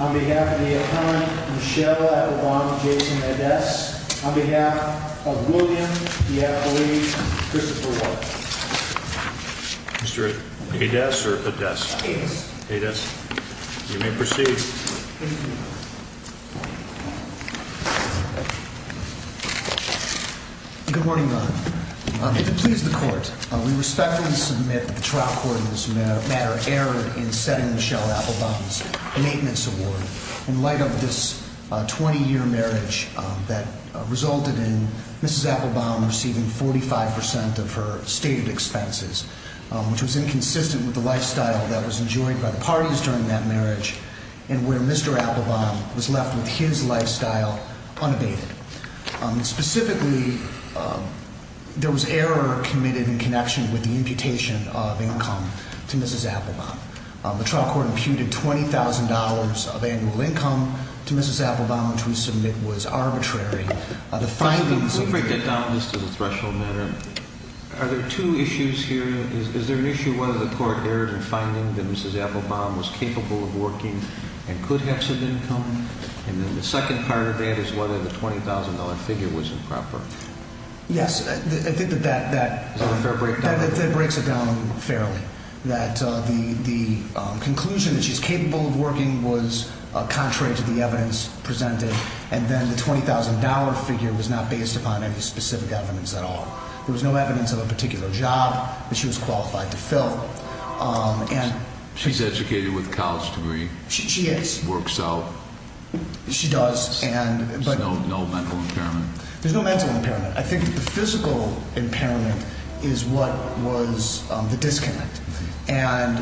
On behalf of the appellant Michelle Appelbaum and Jason Ades, on behalf of William Diapoli and Christopher Walton. Mr. Ades or Ades? Ades. Ades. You may proceed. Good morning, Your Honor. To please the court, we respectfully submit that the trial court in this matter erred in setting Michelle Appelbaum's maintenance award. In light of this 20-year marriage that resulted in Mrs. Appelbaum receiving 45% of her stated expenses, which was inconsistent with the lifestyle that was enjoyed by the parties during that marriage, and where Mr. Appelbaum was left with his lifestyle unabated. Specifically, there was error committed in connection with the imputation of income to Mrs. Appelbaum. The trial court imputed $20,000 of annual income to Mrs. Appelbaum, which we submit was arbitrary. First, let me break that down just as a threshold matter. Are there two issues here? Is there an issue whether the court erred in finding that Mrs. Appelbaum was capable of working and could have some income? And then the second part of that is whether the $20,000 figure was improper. Yes, I think that that breaks it down fairly. That the conclusion that she's capable of working was contrary to the evidence presented. And then the $20,000 figure was not based upon any specific evidence at all. There was no evidence of a particular job that she was qualified to fill. She's educated with a college degree. She is. She works out. She does. There's no mental impairment. There's no mental impairment. I think the physical impairment is what was the disconnect. And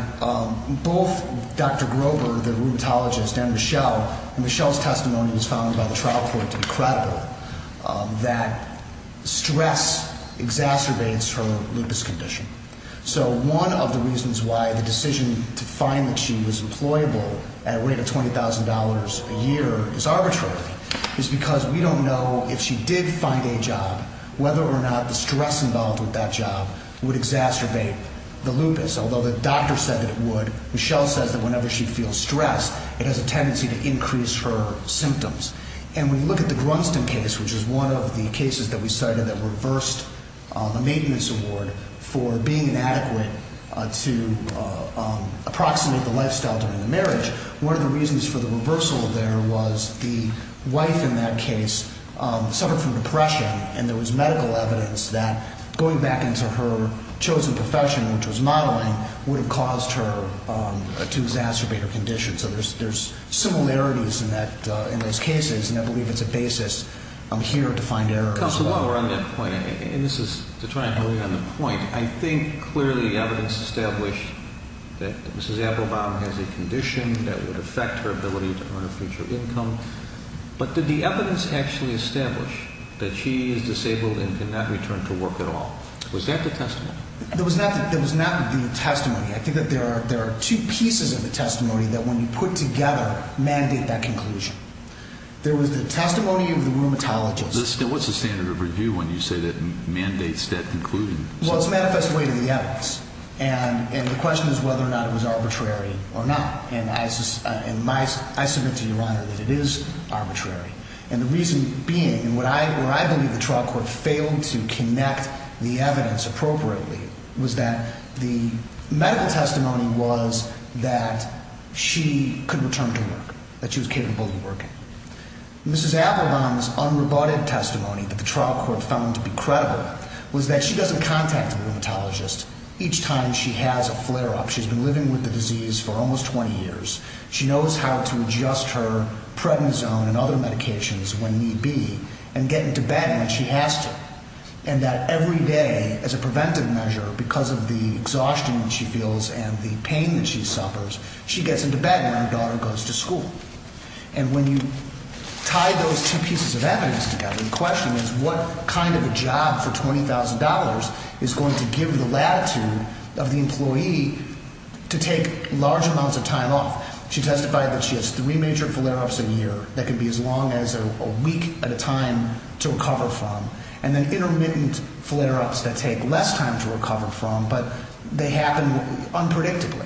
both Dr. Grover, the rheumatologist, and Michelle, and Michelle's testimony was found by the trial court to be credible, that stress exacerbates her lupus condition. So one of the reasons why the decision to find that she was employable at a rate of $20,000 a year is arbitrary is because we don't know if she did find a job, whether or not the stress involved with that job would exacerbate the lupus. Although the doctor said that it would. Michelle says that whenever she feels stressed, it has a tendency to increase her symptoms. And we look at the Grunston case, which is one of the cases that we cited that reversed a maintenance award for being inadequate to approximate the lifestyle during the marriage. One of the reasons for the reversal there was the wife in that case suffered from depression, and there was medical evidence that going back into her chosen profession, which was modeling, would have caused her to exacerbate her condition. So there's similarities in those cases, and I believe it's a basis here to find error as well. Counselor, while we're on that point, and this is to try and build on the point, I think clearly the evidence established that Mrs. Applebaum has a condition that would affect her ability to earn a future income. But did the evidence actually establish that she is disabled and cannot return to work at all? Was that the testimony? That was not the testimony. I think that there are two pieces of the testimony that when you put together mandate that conclusion. There was the testimony of the rheumatologist. What's the standard of review when you say that mandates that conclusion? Well, it's manifest way to the evidence, and the question is whether or not it was arbitrary or not. And I submit to Your Honor that it is arbitrary. And the reason being, and where I believe the trial court failed to connect the evidence appropriately, was that the medical testimony was that she could return to work, that she was capable of working. Mrs. Applebaum's unrebutted testimony that the trial court found to be credible was that she doesn't contact a rheumatologist each time she has a flare-up. She's been living with the disease for almost 20 years. She knows how to adjust her prednisone and other medications when need be and get into bed when she has to. And that every day, as a preventive measure, because of the exhaustion she feels and the pain that she suffers, she gets into bed when her daughter goes to school. And when you tie those two pieces of evidence together, the question is what kind of a job for $20,000 is going to give the latitude of the employee to take large amounts of time off. She testified that she has three major flare-ups a year that could be as long as a week at a time to recover from, and then intermittent flare-ups that take less time to recover from, but they happen unpredictably.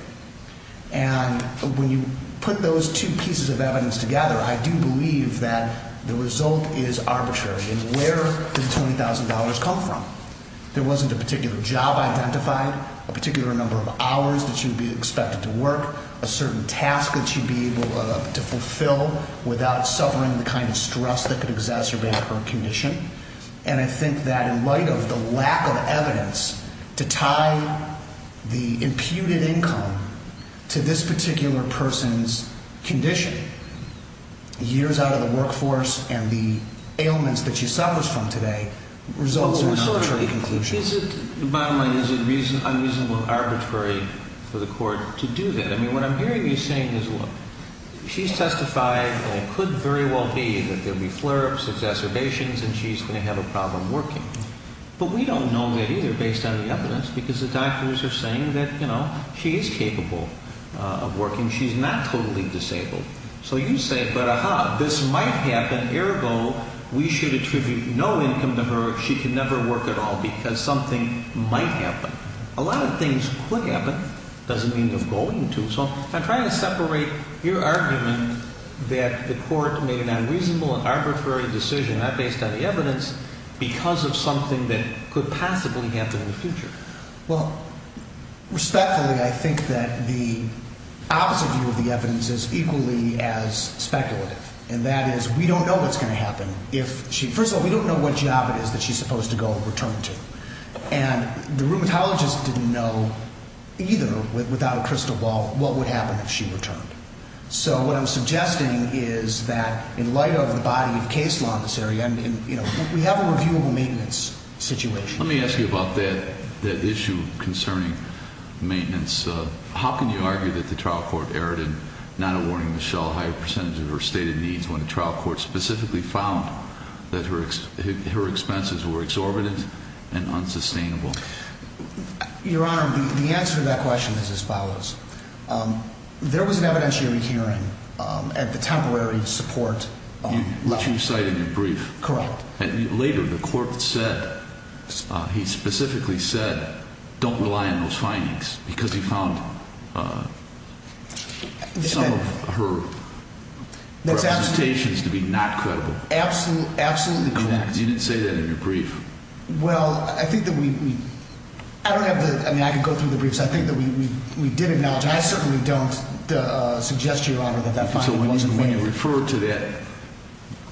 And when you put those two pieces of evidence together, I do believe that the result is arbitrary. Where did the $20,000 come from? There wasn't a particular job identified, a particular number of hours that she would be expected to work, a certain task that she'd be able to fulfill without suffering the kind of stress that could exacerbate her condition. And I think that in light of the lack of evidence to tie the imputed income to this particular person's condition, years out of the workforce and the ailments that she suffers from today, results in arbitrary conclusions. Bottom line, is it unreasonable and arbitrary for the court to do that? I mean, what I'm hearing you saying is, look, she's testified, and it could very well be, that there'll be flare-ups, exacerbations, and she's going to have a problem working. But we don't know that either, based on the evidence, because the doctors are saying that, you know, she is capable of working. She's not totally disabled. So you say, but ah-ha, this might happen, ergo, we should attribute no income to her, she can never work at all, because something might happen. A lot of things could happen. It doesn't mean you're going to. So I'm trying to separate your argument that the court made an unreasonable and arbitrary decision, not based on the evidence, because of something that could possibly happen in the future. Well, respectfully, I think that the opposite view of the evidence is equally as speculative. And that is, we don't know what's going to happen if she – first of all, we don't know what job it is that she's supposed to go and return to. And the rheumatologist didn't know either, without a crystal ball, what would happen if she returned. So what I'm suggesting is that, in light of the body of case law in this area, we have a reviewable maintenance situation. Let me ask you about that issue concerning maintenance. How can you argue that the trial court erred in not awarding Michelle a higher percentage of her stated needs when the trial court specifically found that her expenses were exorbitant and unsustainable? Your Honor, the answer to that question is as follows. There was an evidentiary hearing at the temporary support level. Which you cited in the brief. Correct. Later, the court said – he specifically said, don't rely on those findings, because he found some of her representations to be not credible. Absolutely correct. You didn't say that in your brief. Well, I think that we – I don't have the – I mean, I could go through the briefs. I think that we did acknowledge, and I certainly don't suggest to Your Honor that that finding wasn't made. So when you refer to that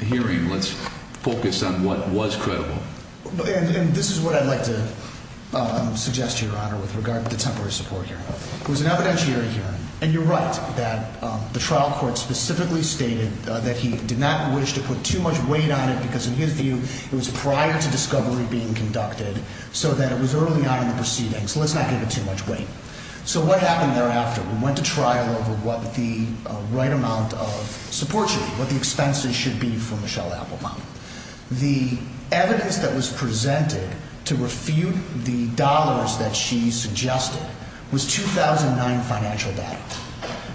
hearing, let's focus on what was credible. And this is what I'd like to suggest to Your Honor with regard to the temporary support hearing. There was an evidentiary hearing, and you're right that the trial court specifically stated that he did not wish to put too much weight on it because, in his view, it was prior to discovery being conducted so that it was early on in the proceedings. Let's not give it too much weight. So what happened thereafter? We went to trial over what the right amount of support should be, what the expenses should be for Michelle Applebaum. The evidence that was presented to refute the dollars that she suggested was 2009 financial data.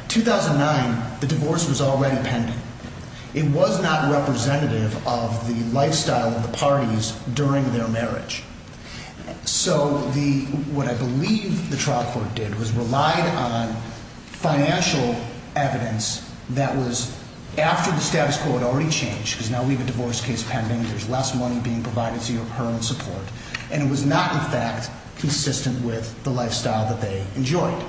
2009, the divorce was already pending. It was not representative of the lifestyle of the parties during their marriage. So the – what I believe the trial court did was relied on financial evidence that was after the status quo had already changed, because now we have a divorce case pending, there's less money being provided to her in support, and it was not, in fact, consistent with the lifestyle that they enjoyed.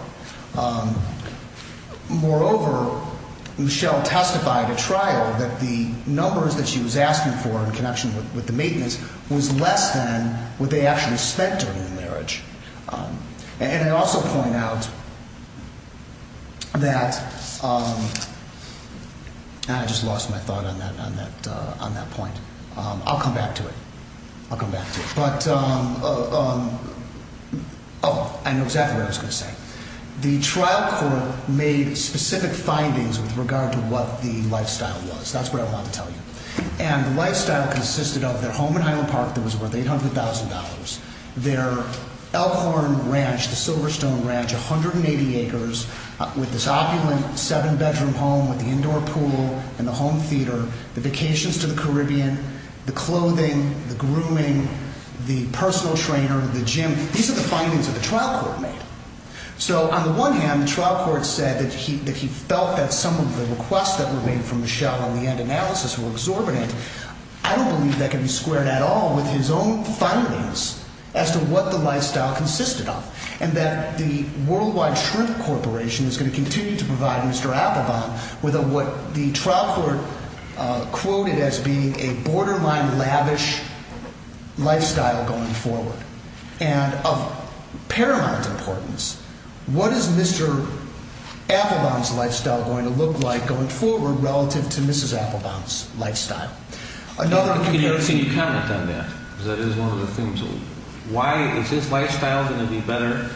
Moreover, Michelle testified at trial that the numbers that she was asking for in connection with the maintenance was less than what they actually spent during the marriage. And I also point out that – I just lost my thought on that point. I'll come back to it. I'll come back to it. But – oh, I know exactly what I was going to say. The trial court made specific findings with regard to what the lifestyle was. That's what I wanted to tell you. And the lifestyle consisted of their home in Highland Park that was worth $800,000, their Elkhorn Ranch, the Silverstone Ranch, 180 acres, with this opulent seven-bedroom home with the indoor pool and the home theater, the vacations to the Caribbean, the clothing, the grooming, the personal trainer, the gym. These are the findings that the trial court made. So on the one hand, the trial court said that he felt that some of the requests that were made from Michelle on the end analysis were exorbitant. I don't believe that can be squared at all with his own findings as to what the lifestyle consisted of and that the Worldwide Shrimp Corporation is going to continue to provide Mr. Applebaum with what the trial court quoted as being a borderline lavish lifestyle going forward. And of paramount importance, what is Mr. Applebaum's lifestyle going to look like going forward relative to Mrs. Applebaum's lifestyle? Can you comment on that? Because that is one of the things. Why is his lifestyle going to be better?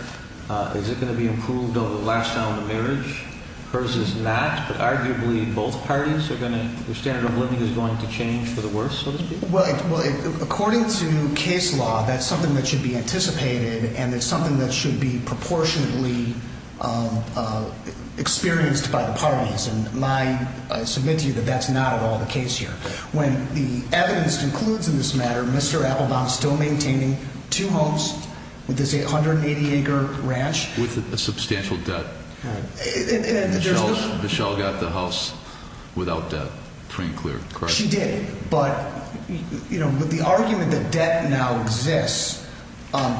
Is it going to be improved over the lifestyle in the marriage? Hers is not, but arguably both parties are going to – their standard of living is going to change for the worse, so to speak? Well, according to case law, that's something that should be anticipated and it's something that should be proportionately experienced by the parties. And I submit to you that that's not at all the case here. When the evidence concludes in this matter, Mr. Applebaum is still maintaining two homes with this 880-acre ranch. With a substantial debt. Michelle got the house without debt, pretty clear, correct? She did, but the argument that debt now exists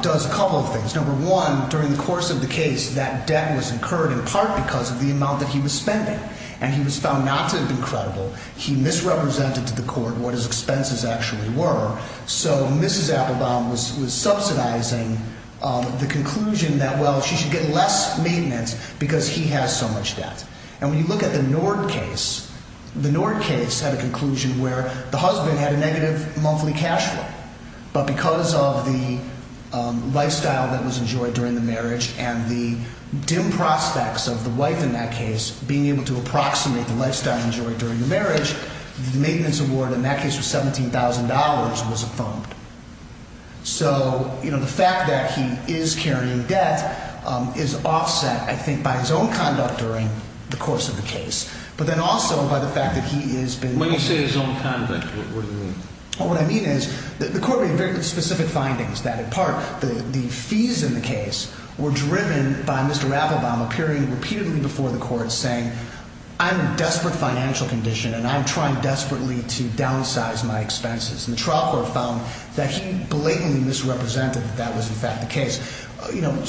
does a couple of things. Number one, during the course of the case, that debt was incurred in part because of the amount that he was spending. And he was found not to have been credible. He misrepresented to the court what his expenses actually were. So Mrs. Applebaum was subsidizing the conclusion that, well, she should get less maintenance because he has so much debt. And when you look at the Nord case, the Nord case had a conclusion where the husband had a negative monthly cash flow. But because of the lifestyle that was enjoyed during the marriage and the dim prospects of the wife in that case, being able to approximate the lifestyle enjoyed during the marriage, the maintenance award in that case was $17,000 was a phone. So the fact that he is carrying debt is offset, I think, by his own conduct during the course of the case. But then also by the fact that he has been When you say his own conduct, what do you mean? Well, what I mean is that the court made very specific findings that, in part, the fees in the case were driven by Mr. Applebaum appearing repeatedly before the court saying, I'm in desperate financial condition and I'm trying desperately to downsize my expenses. And the trial court found that he blatantly misrepresented that that was, in fact, the case.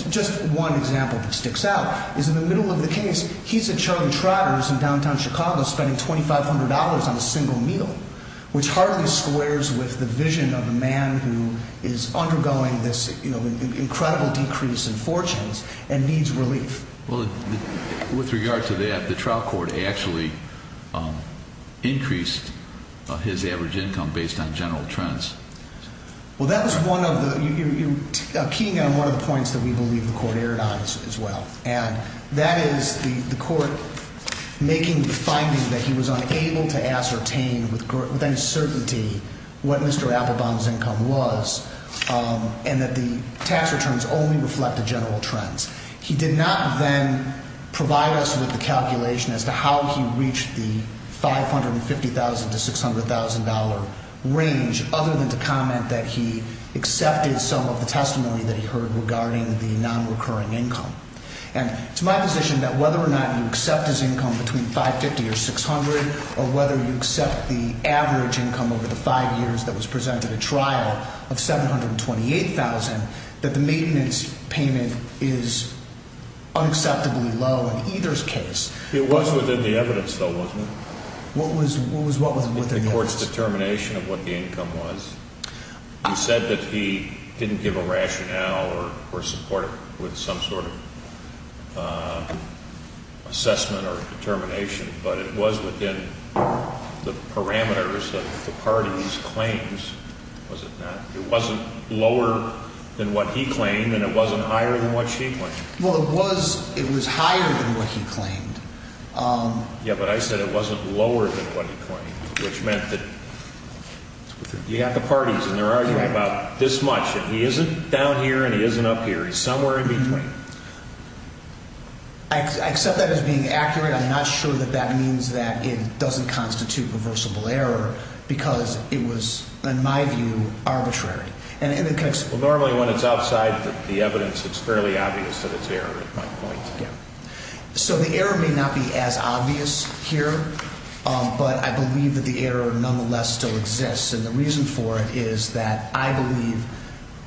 Just one example that sticks out is in the middle of the case, he's at Charlie Trotter's in downtown Chicago spending $2,500 on a single meal, which hardly squares with the vision of a man who is undergoing this incredible decrease in fortunes and needs relief. Well, with regard to that, the trial court actually increased his average income based on general trends. Well, that was one of the, you're keying on one of the points that we believe the court erred on as well. And that is the court making the finding that he was unable to ascertain with uncertainty what Mr. Applebaum's income was and that the tax returns only reflected general trends. He did not then provide us with the calculation as to how he reached the $550,000 to $600,000 range other than to comment that he accepted some of the testimony that he heard regarding the nonrecurring income. And it's my position that whether or not you accept his income between $550,000 or $600,000 or whether you accept the average income over the five years that was presented at trial of $728,000, that the maintenance payment is unacceptably low in either case. It was within the evidence, though, wasn't it? What was within the evidence? The court's determination of what the income was. You said that he didn't give a rationale or support it with some sort of assessment or determination, but it was within the parameters that the parties claimed, was it not? It wasn't lower than what he claimed, and it wasn't higher than what she claimed. Well, it was higher than what he claimed. Yeah, but I said it wasn't lower than what he claimed, which meant that you have the parties, and they're arguing about this much, and he isn't down here and he isn't up here. He's somewhere in between. I accept that as being accurate. I'm not sure that that means that it doesn't constitute reversible error because it was, in my view, arbitrary. Well, normally when it's outside the evidence, it's fairly obvious that it's error at my point. So the error may not be as obvious here, but I believe that the error nonetheless still exists, and the reason for it is that I believe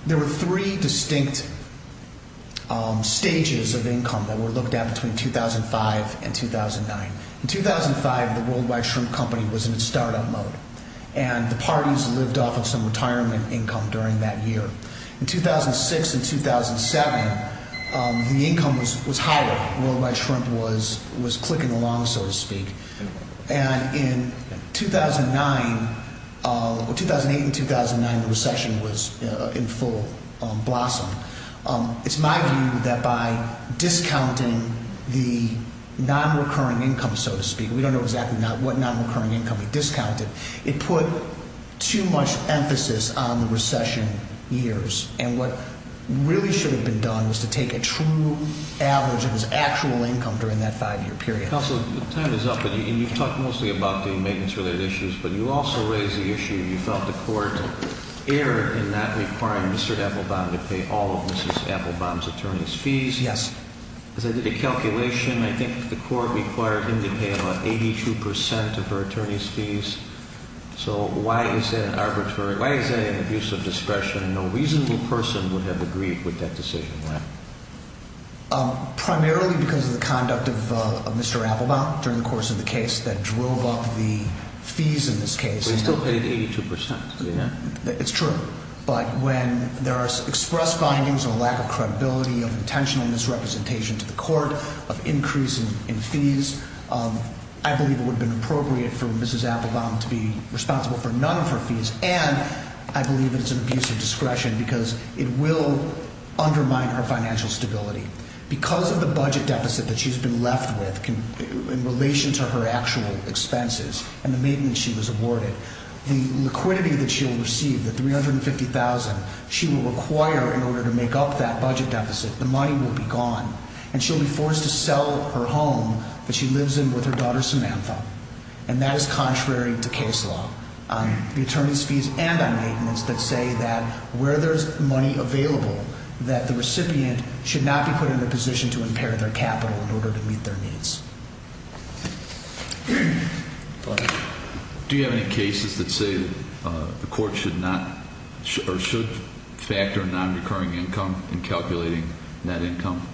there were three distinct stages of income that were looked at between 2005 and 2009. In 2005, the Worldwide Shrimp Company was in its startup mode, and the parties lived off of some retirement income during that year. In 2006 and 2007, the income was higher. Worldwide Shrimp was clicking along, so to speak. And in 2008 and 2009, the recession was in full blossom. It's my view that by discounting the non-recurring income, so to speak, we don't know exactly what non-recurring income he discounted, it put too much emphasis on the recession years, and what really should have been done was to take a true average of his actual income during that five-year period. Counsel, time is up, and you've talked mostly about the maintenance-related issues, but you also raised the issue you felt the court erred in not requiring Mr. Applebaum to pay all of Mrs. Applebaum's attorney's fees. Yes. Because I did a calculation, I think the court required him to pay about 82% of her attorney's fees. So why is that an arbitrary, why is that an abuse of discretion, and no reasonable person would have agreed with that decision? Primarily because of the conduct of Mr. Applebaum during the course of the case that drove up the fees in this case. But he still paid 82%. It's true. But when there are expressed findings of a lack of credibility, of intentional misrepresentation to the court, of increase in fees, I believe it would have been appropriate for Mrs. Applebaum to be responsible for none of her fees, and I believe it's an abuse of discretion because it will undermine her financial stability. Because of the budget deficit that she's been left with in relation to her actual expenses and the maintenance she was awarded, the liquidity that she will receive, the $350,000 she will require in order to make up that budget deficit, the money will be gone. And she'll be forced to sell her home that she lives in with her daughter Samantha, and that is contrary to case law. The attorneys' fees and on maintenance that say that where there's money available, that the recipient should not be put in a position to impair their capital in order to meet their needs. Do you have any cases that say the court should not or should factor in nonrecurring income in calculating net income?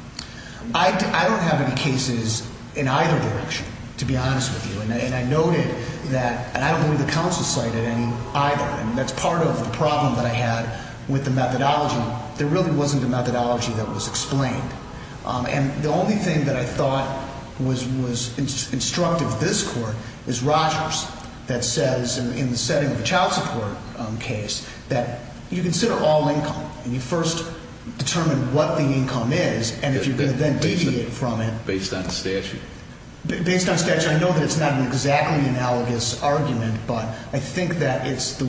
I don't have any cases in either direction, to be honest with you. And I noted that, and I don't believe the counsel cited any either, and that's part of the problem that I had with the methodology. There really wasn't a methodology that was explained. And the only thing that I thought was instructive of this court is Rogers that says in the setting of the child support case that you consider all income, and you first determine what the income is, and if you're going to then deviate from it. Based on statute? Based on statute, I know that it's not an exactly analogous argument, but I think that it's the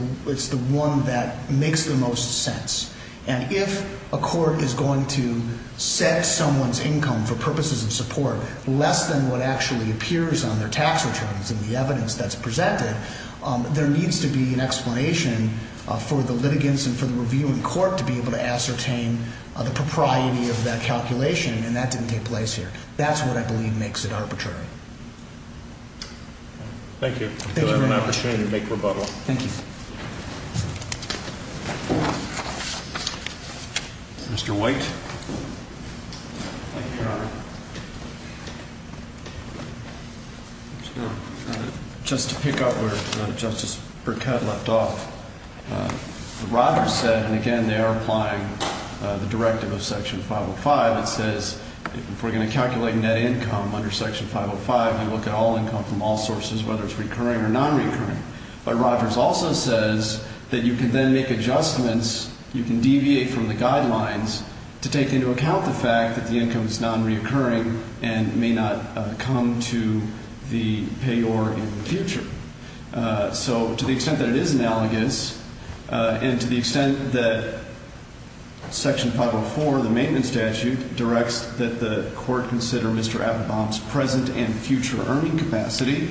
one that makes the most sense. And if a court is going to set someone's income for purposes of support less than what actually appears on their tax returns in the evidence that's presented, there needs to be an explanation for the litigants and for the review in court to be able to ascertain the propriety of that calculation, and that didn't take place here. That's what I believe makes it arbitrary. Thank you. I appreciate your big rebuttal. Thank you. Mr. White. Just to pick up where Justice Burkett left off, Rogers said, and again they are applying the directive of Section 505 that says if we're going to calculate net income under Section 505, we look at all income from all sources, whether it's recurring or non-recurring. But Rogers also says that you can then make adjustments, you can deviate from the guidelines to take into account the fact that the income is non-recurring and may not come to the payor in the future. So to the extent that it is analogous and to the extent that Section 504, the maintenance statute, directs that the court consider Mr. Applebaum's present and future earning capacity,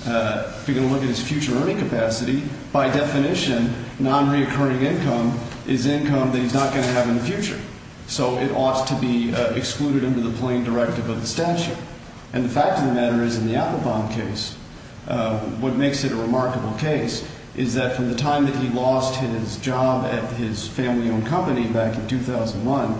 if you're going to look at his future earning capacity, by definition, non-recurring income is income that he's not going to have in the future. So it ought to be excluded under the plain directive of the statute. And the fact of the matter is in the Applebaum case, what makes it a remarkable case is that from the time that he lost his job at his family owned company back in 2001,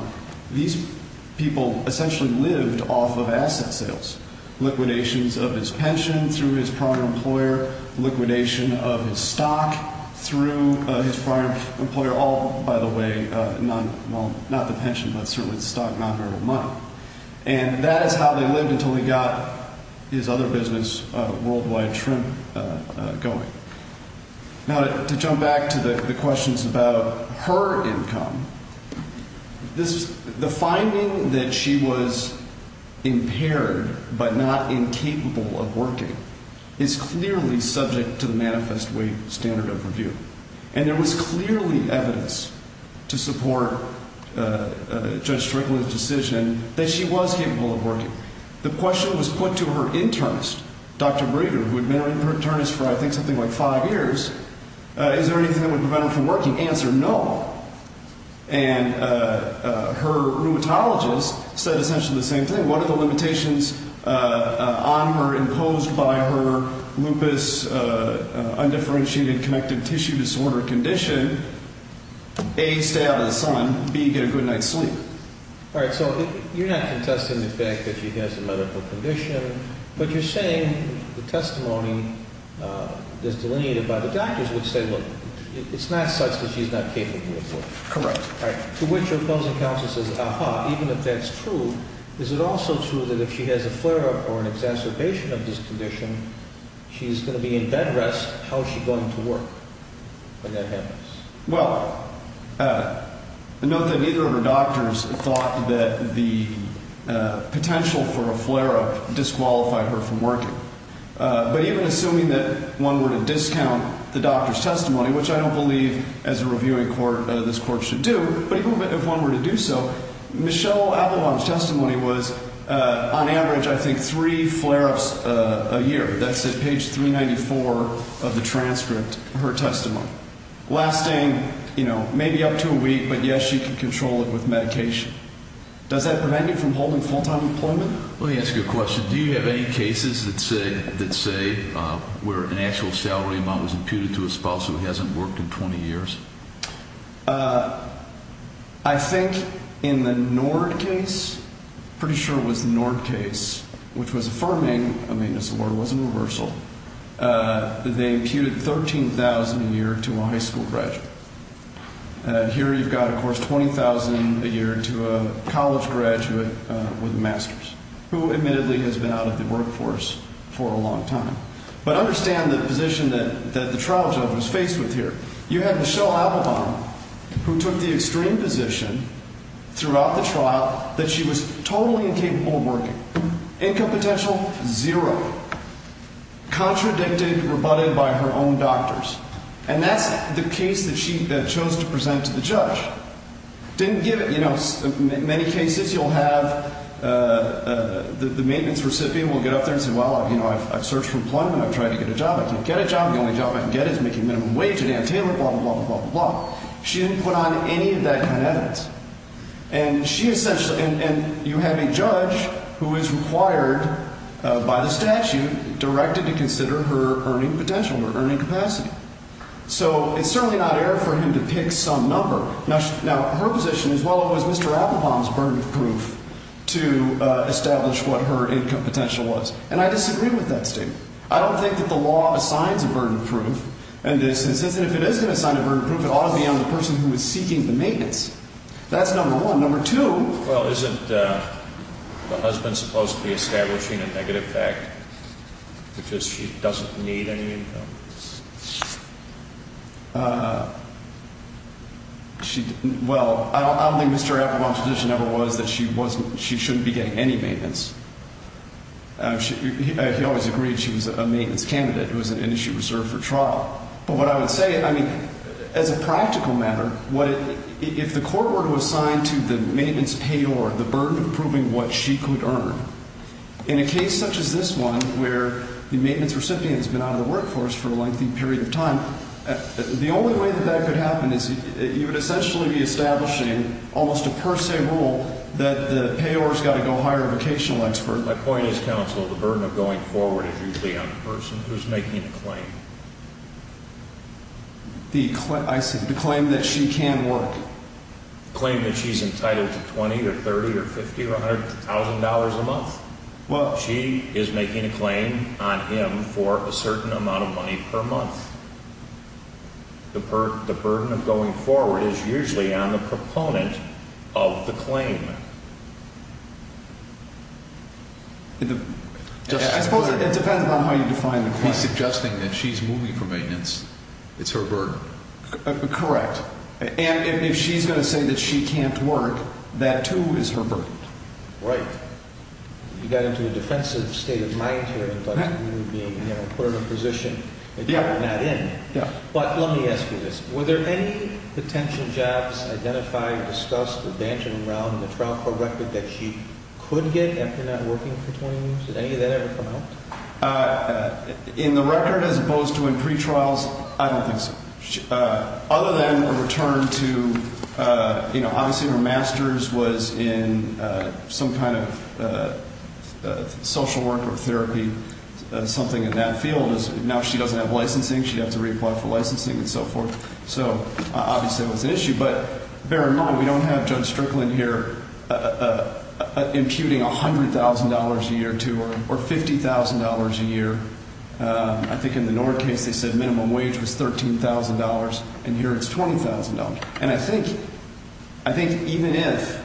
these people essentially lived off of asset sales, liquidations of his pension through his prior employer, liquidation of his stock through his prior employer, all, by the way, not the pension, but certainly the stock, non-verbal money. And that is how they lived until he got his other business, World Wide Shrimp, going. Now to jump back to the questions about her income, the finding that she was impaired but not incapable of working is clearly subject to the manifest weight standard of review. And there was clearly evidence to support Judge Strickland's decision that she was capable of working. The question was put to her internist, Dr. Breeder, who had been her internist for I think something like five years, is there anything that would prevent her from working? Answer, no. And her rheumatologist said essentially the same thing. What are the limitations on her imposed by her lupus undifferentiated connective tissue disorder condition? A, stay out of the sun. B, get a good night's sleep. All right. So you're not contesting the fact that she has a medical condition, but you're saying the testimony that's delineated by the doctors would say, look, it's not such that she's not capable of working. Correct. All right. To which opposing counsel says, ah-ha, even if that's true, is it also true that if she has a flare-up or an exacerbation of this condition, she's going to be in bed rest? How is she going to work when that happens? Well, note that neither of her doctors thought that the potential for a flare-up disqualified her from working. But even assuming that one were to discount the doctor's testimony, which I don't believe as a reviewing court this court should do, but even if one were to do so, Michelle Avalon's testimony was on average I think three flare-ups a year. That's at page 394 of the transcript of her testimony. Lasting, you know, maybe up to a week, but, yes, she can control it with medication. Does that prevent you from holding full-time employment? Let me ask you a question. Do you have any cases that say where an actual salary amount was imputed to a spouse who hasn't worked in 20 years? I think in the Nord case, pretty sure it was the Nord case, which was affirming, I mean, as the word was, a reversal, they imputed $13,000 a year to a high school graduate. Here you've got, of course, $20,000 a year to a college graduate with a master's, who admittedly has been out of the workforce for a long time. But understand the position that the trial judge was faced with here. You had Michelle Avalon, who took the extreme position throughout the trial that she was totally incapable of working, income potential zero, contradicted, rebutted by her own doctors. And that's the case that she chose to present to the judge. Didn't give it, you know, many cases you'll have the maintenance recipient will get up there and say, well, you know, I've searched for employment. I've tried to get a job. I can't get a job. The only job I can get is making minimum wage at Ann Taylor, blah, blah, blah, blah, blah. She didn't put on any of that kind of evidence. And she essentially, and you have a judge who is required by the statute directed to consider her earning potential, her earning capacity. So it's certainly not air for him to pick some number. Now, her position is, well, it was Mr. Applebaum's burden of proof to establish what her income potential was. And I disagree with that statement. I don't think that the law assigns a burden of proof. And if it is going to assign a burden of proof, it ought to be on the person who is seeking the maintenance. That's number one. Number two. Well, isn't the husband supposed to be establishing a negative fact, because she doesn't need any income? Well, I don't think Mr. Applebaum's position ever was that she shouldn't be getting any maintenance. He always agreed she was a maintenance candidate. It was an industry reserved for trial. But what I would say, I mean, as a practical matter, if the court were to assign to the maintenance payor the burden of proving what she could earn, in a case such as this one where the maintenance recipient has been out of the workforce for a lengthy period of time, the only way that that could happen is you would essentially be establishing almost a per se rule that the payor has got to go hire a vocational expert. My point is, counsel, the burden of going forward is usually on the person who is making the claim. I see. The claim that she can work. The claim that she's entitled to $20,000 or $30,000 or $50,000 or $100,000 a month. She is making a claim on him for a certain amount of money per month. The burden of going forward is usually on the proponent of the claim. I suppose it depends on how you define the claim. If he's suggesting that she's moving for maintenance, it's her burden. Correct. And if she's going to say that she can't work, that, too, is her burden. Right. You got into a defensive state of mind here, in terms of you being put in a position that you're not in. Yeah. But let me ask you this. Were there any potential jobs identified, discussed, or bantered around in the trial court record that she could get after not working for 20 years? Did any of that ever come out? In the record, as opposed to in pretrials, I don't think so. Other than a return to, you know, obviously her master's was in some kind of social work or therapy, something in that field. Now she doesn't have licensing. She'd have to reapply for licensing and so forth. So, obviously, that was an issue. But bear in mind, we don't have Judge Strickland here imputing $100,000 a year to her or $50,000 a year. I think in the Nord case they said minimum wage was $13,000, and here it's $20,000. And I think even if,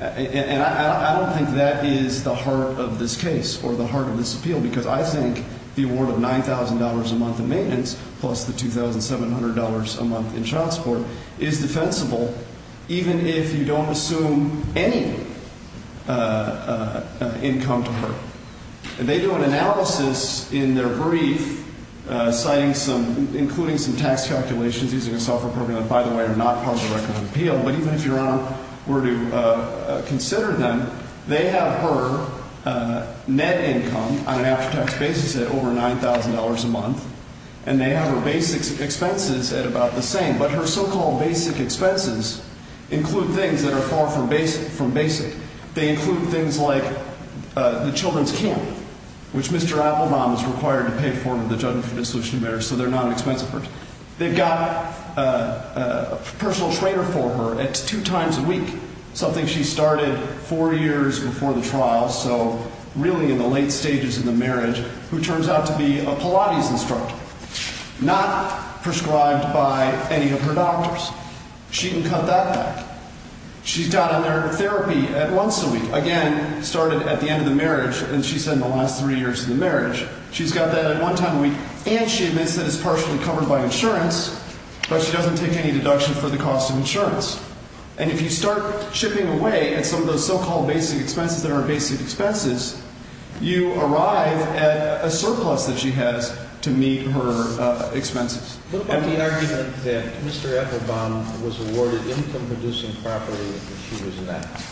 and I don't think that is the heart of this case or the heart of this appeal, because I think the award of $9,000 a month in maintenance plus the $2,700 a month in child support is defensible even if you don't assume any income to her. They do an analysis in their brief citing some, including some tax calculations using a software program that, by the way, are not part of the record of appeal. But even if Your Honor were to consider them, they have her net income on an after-tax basis at over $9,000 a month, and they have her basic expenses at about the same. But her so-called basic expenses include things that are far from basic. They include things like the children's camp, which Mr. Applebaum is required to pay for in the Judgment for Dissolution of Marriage, so they're not expensive for her. They've got a personal trainer for her at two times a week, something she started four years before the trial, so really in the late stages of the marriage, who turns out to be a Pilates instructor, not prescribed by any of her doctors. She can cut that back. She's got another therapy at once a week, again, started at the end of the marriage, as she said in the last three years of the marriage. She's got that at one time a week, and she admits that it's partially covered by insurance, but she doesn't take any deduction for the cost of insurance. And if you start chipping away at some of those so-called basic expenses that aren't basic expenses, you arrive at a surplus that she has to meet her expenses. What about the argument that Mr. Applebaum was awarded income-producing property when she was inactive?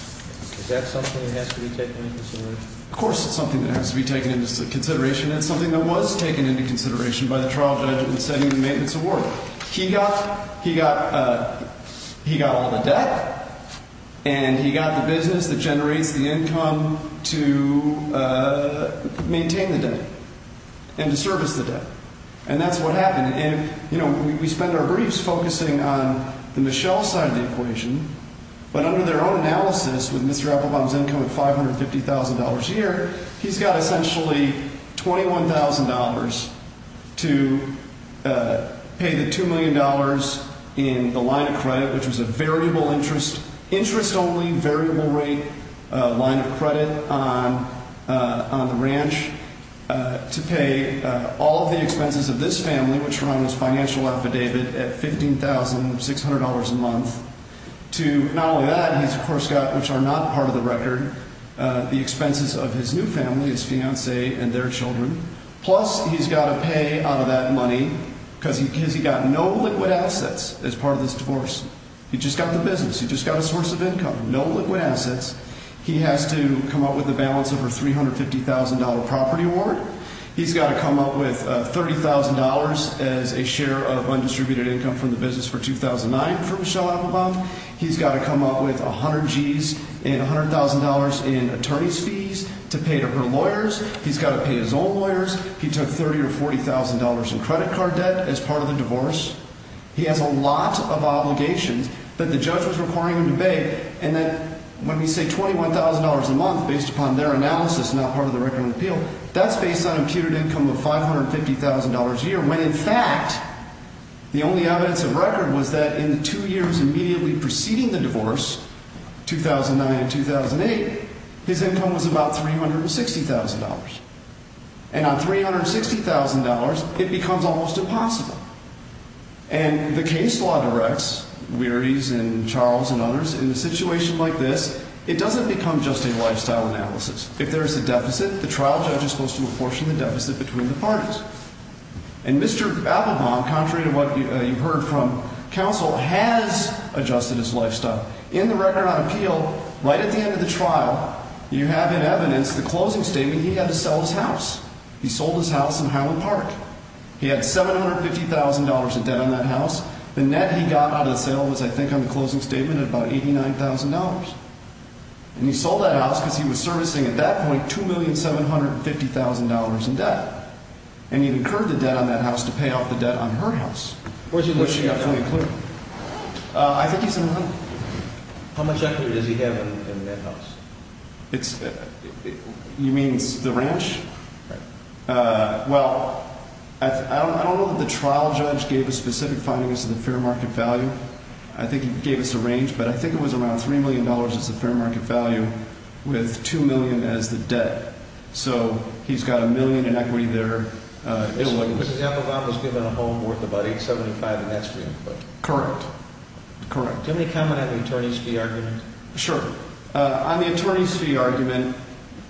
Is that something that has to be taken into consideration? Of course it's something that has to be taken into consideration, and it's something that was taken into consideration by the trial judge in setting the maintenance award. He got all the debt, and he got the business that generates the income to maintain the debt and to service the debt. And that's what happened. And, you know, we spend our briefs focusing on the Michelle side of the equation, but under their own analysis, with Mr. Applebaum's income of $550,000 a year, he's got essentially $21,000 to pay the $2 million in the line of credit, which was a variable interest, interest-only variable rate line of credit on the ranch, to pay all the expenses of this family, which are on his financial affidavit, at $15,600 a month. To not only that, he's of course got, which are not part of the record, the expenses of his new family, his fiancee and their children. Plus, he's got to pay out of that money because he's got no liquid assets as part of this divorce. He just got the business. He just got a source of income. No liquid assets. He has to come up with a balance of her $350,000 property award. He's got to come up with $30,000 as a share of undistributed income from the business for 2009 for Michelle Applebaum. He's got to come up with 100 Gs and $100,000 in attorney's fees to pay to her lawyers. He's got to pay his own lawyers. He took $30,000 or $40,000 in credit card debt as part of the divorce. He has a lot of obligations that the judge was requiring him to pay. And then when we say $21,000 a month based upon their analysis, not part of the record on appeal, that's based on imputed income of $550,000 a year, when in fact the only evidence of record was that in the two years immediately preceding the divorce, 2009 and 2008, his income was about $360,000. And on $360,000, it becomes almost impossible. And the case law directs, Weary's and Charles and others, in a situation like this, it doesn't become just a lifestyle analysis. If there is a deficit, the trial judge is supposed to apportion the deficit between the parties. And Mr. Applebaum, contrary to what you heard from counsel, has adjusted his lifestyle. In the record on appeal, right at the end of the trial, you have in evidence the closing statement he had to sell his house. He sold his house in Highland Park. He had $750,000 in debt on that house. The net he got out of the sale was, I think, on the closing statement at about $89,000. And he sold that house because he was servicing, at that point, $2,750,000 in debt. And he incurred the debt on that house to pay off the debt on her house, which he got fully included. I think he's in line. How much equity does he have in that house? You mean the ranch? Well, I don't know that the trial judge gave a specific finding as to the fair market value. I think he gave us a range, but I think it was around $3 million as the fair market value, with $2 million as the debt. So he's got a million in equity there. Mr. Applebaum was given a home worth of about $875,000 in extra income. Correct. Correct. Can we comment on the attorney's fee argument? Sure. On the attorney's fee argument,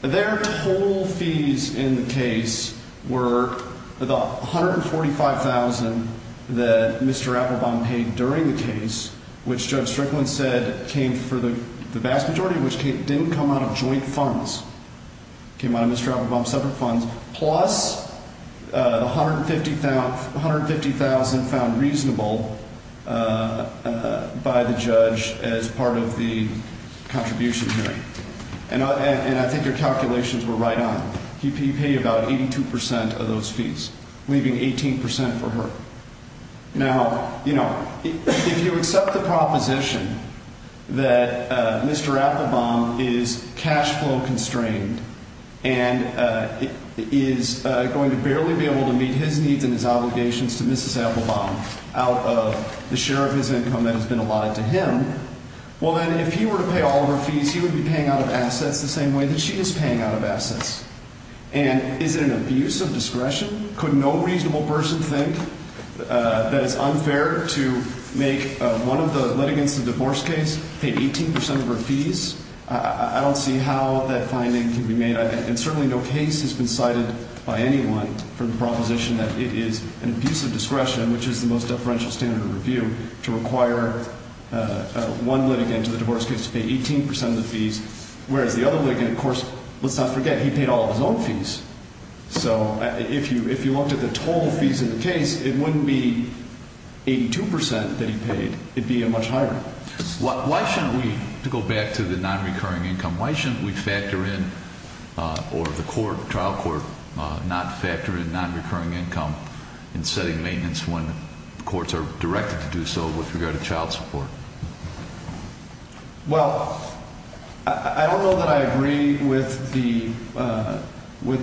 their total fees in the case were the $145,000 that Mr. Applebaum paid during the case, which Judge Strickland said came for the vast majority, which didn't come out of joint funds. It came out of Mr. Applebaum's separate funds. Plus the $150,000 found reasonable by the judge as part of the contribution hearing. And I think your calculations were right on. He paid about 82% of those fees, leaving 18% for her. Now, you know, if you accept the proposition that Mr. Applebaum is cash flow constrained and is going to barely be able to meet his needs and his obligations to Mrs. Applebaum out of the share of his income that has been allotted to him, well then, if he were to pay all of her fees, he would be paying out of assets the same way that she is paying out of assets. Could no reasonable person think that it's unfair to make one of the litigants of the divorce case pay 18% of her fees? I don't see how that finding can be made. And certainly no case has been cited by anyone for the proposition that it is an abuse of discretion, which is the most deferential standard of review, to require one litigant of the divorce case to pay 18% of the fees, whereas the other litigant, of course, let's not forget, he paid all of his own fees. So if you looked at the total fees of the case, it wouldn't be 82% that he paid, it would be much higher. Why shouldn't we, to go back to the non-recurring income, why shouldn't we factor in, or the court, trial court, not factor in non-recurring income in setting maintenance when courts are directed to do so with regard to child support? Well, I don't know that I agree with the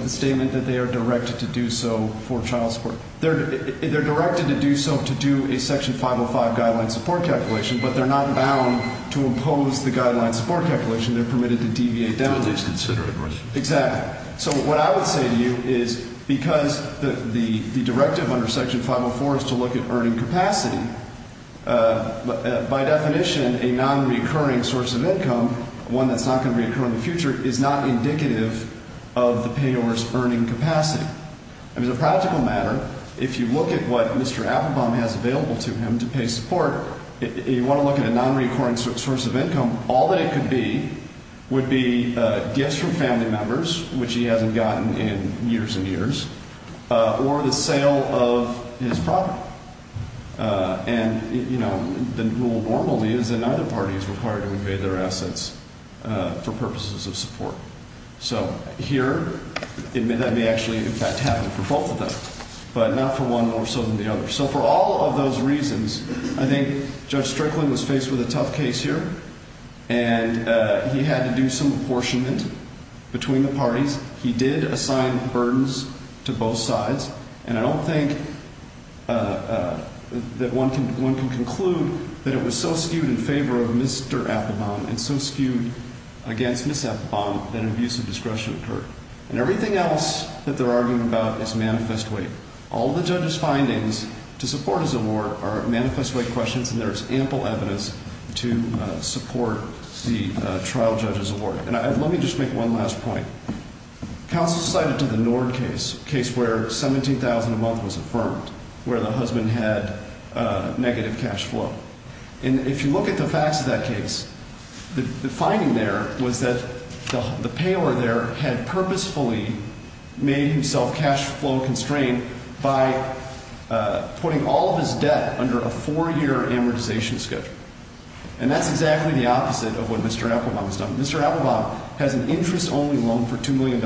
statement that they are directed to do so for child support. They're directed to do so to do a Section 505 guideline support calculation, but they're not bound to impose the guideline support calculation. They're permitted to deviate down. That's a very disconsiderate question. Exactly. So what I would say to you is because the directive under Section 504 is to look at earning capacity, by definition, a non-recurring source of income, one that's not going to reoccur in the future, is not indicative of the payor's earning capacity. As a practical matter, if you look at what Mr. Applebaum has available to him to pay support, you want to look at a non-recurring source of income, all that it could be would be gifts from family members, which he hasn't gotten in years and years, or the sale of his property. And, you know, the rule normally is that neither party is required to evade their assets for purposes of support. So here, that may actually, in fact, happen for both of them, but not for one more so than the other. So for all of those reasons, I think Judge Strickland was faced with a tough case here, and he had to do some apportionment between the parties. He did assign burdens to both sides. And I don't think that one can conclude that it was so skewed in favor of Mr. Applebaum and so skewed against Ms. Applebaum that abusive discretion occurred. And everything else that they're arguing about is manifest way. All the judge's findings to support his award are manifest way questions, and there is ample evidence to support the trial judge's award. And let me just make one last point. Counsel cited to the Nord case, a case where $17,000 a month was affirmed, where the husband had negative cash flow. And if you look at the facts of that case, the finding there was that the payor there had purposefully made himself cash flow constrained by putting all of his debt under a four-year amortization schedule. And that's exactly the opposite of what Mr. Applebaum has done. Mr. Applebaum has an interest-only loan for $2 million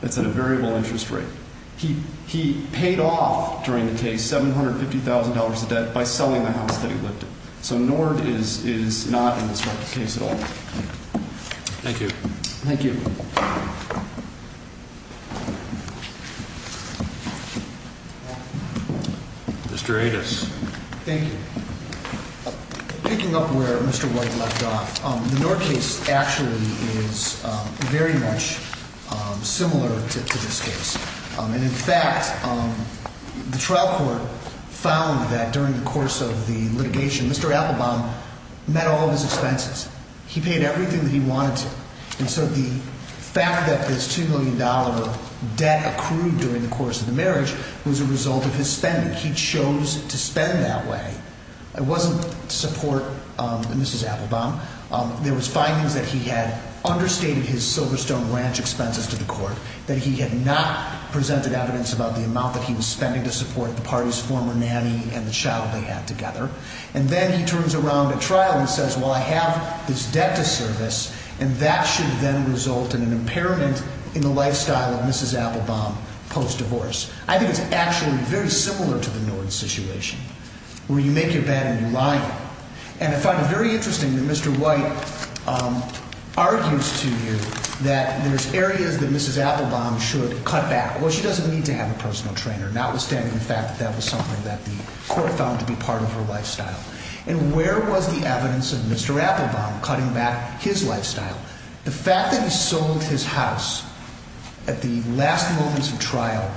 that's at a variable interest rate. He paid off, during the case, $750,000 of debt by selling the house that he lived in. So Nord is not in this case at all. Thank you. Thank you. Mr. Adas. Thank you. Picking up where Mr. White left off, the Nord case actually is very much similar to this case. And in fact, the trial court found that during the course of the litigation, Mr. Applebaum met all of his expenses. He paid everything that he wanted to. And so the fact that this $2 million of debt accrued during the course of the marriage was a result of his spending. He chose to spend that way. It wasn't to support Mrs. Applebaum. There was findings that he had understated his Silverstone Ranch expenses to the court, that he had not presented evidence about the amount that he was spending to support the party's former nanny and the child they had together. And then he turns around at trial and says, well, I have this debt to service, and that should then result in an impairment in the lifestyle of Mrs. Applebaum post-divorce. I think it's actually very similar to the Nord situation, where you make your bed and you lie in it. And I find it very interesting that Mr. White argues to you that there's areas that Mrs. Applebaum should cut back. Well, she doesn't need to have a personal trainer, notwithstanding the fact that that was something that the court found to be part of her lifestyle. And where was the evidence of Mr. Applebaum cutting back his lifestyle? The fact that he sold his house at the last moments of trial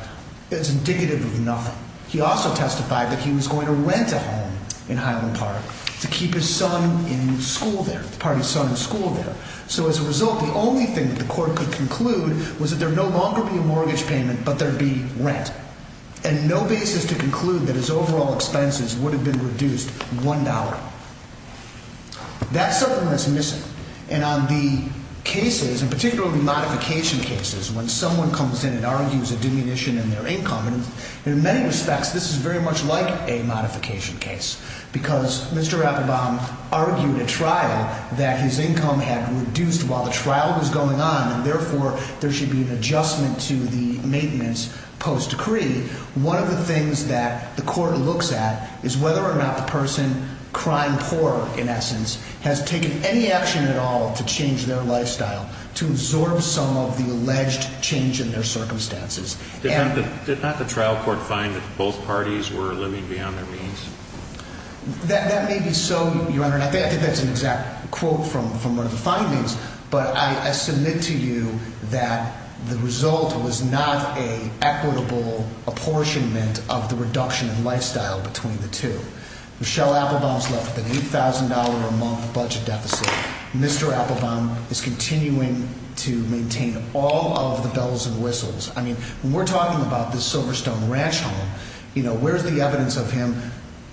is indicative of nothing. He also testified that he was going to rent a home in Highland Park to keep his son in school there, the party's son in school there. So as a result, the only thing that the court could conclude was that there would no longer be a mortgage payment, but there would be rent. And no basis to conclude that his overall expenses would have been reduced $1. That's something that's missing. And on the cases, and particularly modification cases, when someone comes in and argues a diminution in their income, and in many respects this is very much like a modification case, because Mr. Applebaum argued at trial that his income had reduced while the trial was going on, and therefore there should be an adjustment to the maintenance post decree. One of the things that the court looks at is whether or not the person, crime poor in essence, has taken any action at all to change their lifestyle, to absorb some of the alleged change in their circumstances. Did not the trial court find that both parties were living beyond their means? That may be so, Your Honor, and I think that's an exact quote from one of the findings, but I submit to you that the result was not an equitable apportionment of the reduction in lifestyle between the two. Michelle Applebaum's left with an $8,000 a month budget deficit. Mr. Applebaum is continuing to maintain all of the bells and whistles. I mean, when we're talking about this Silverstone Ranch home, where's the evidence of him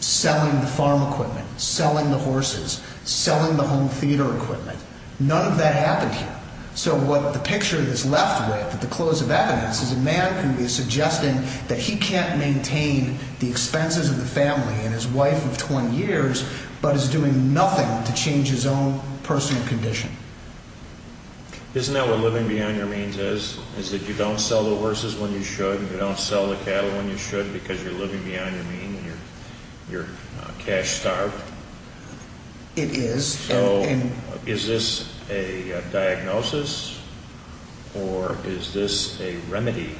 selling the farm equipment, selling the horses, selling the home theater equipment? None of that happened here. So what the picture is left with at the close of evidence is a man who is suggesting that he can't maintain the expenses of the family and his wife of 20 years, but is doing nothing to change his own personal condition. Isn't that what living beyond your means is, is that you don't sell the horses when you should and you don't sell the cattle when you should because you're living beyond your means and you're cash-starved? It is. So is this a diagnosis or is this a remedy,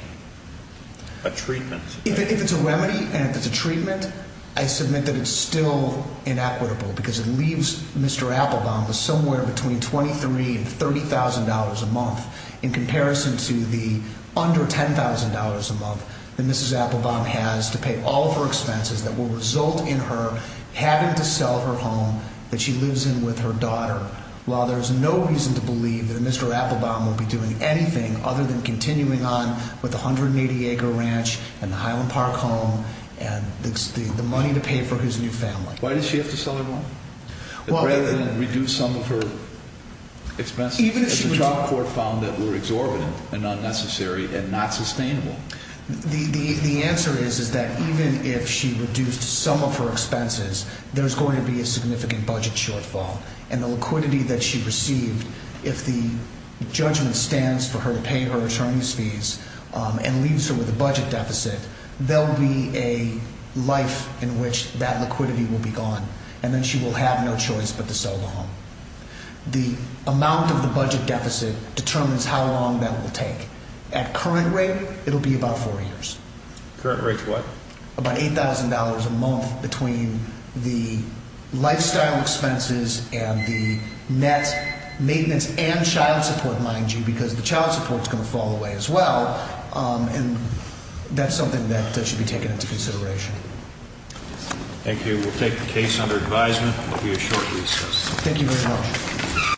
a treatment? If it's a remedy and if it's a treatment, I submit that it's still inequitable because it leaves Mr. Applebaum with somewhere between $23,000 and $30,000 a month in comparison to the under $10,000 a month that Mrs. Applebaum has to pay all of her expenses that will result in her having to sell her home that she lives in with her daughter while there's no reason to believe that Mr. Applebaum will be doing anything other than continuing on with the 180-acre ranch and the Highland Park home and the money to pay for his new family. Why does she have to sell her home rather than reduce some of her expenses that the Trump court found that were exorbitant and unnecessary and not sustainable? The answer is that even if she reduced some of her expenses, there's going to be a significant budget shortfall and the liquidity that she received, if the judgment stands for her to pay her returns fees and leaves her with a budget deficit, there will be a life in which that liquidity will be gone and then she will have no choice but to sell the home. The amount of the budget deficit determines how long that will take. At current rate, it will be about four years. Current rate is what? About $8,000 a month between the lifestyle expenses and the net maintenance and child support, mind you, because the child support is going to fall away as well and that's something that should be taken into consideration. Thank you. We'll take the case under advisement. It will be a short recess. Thank you very much.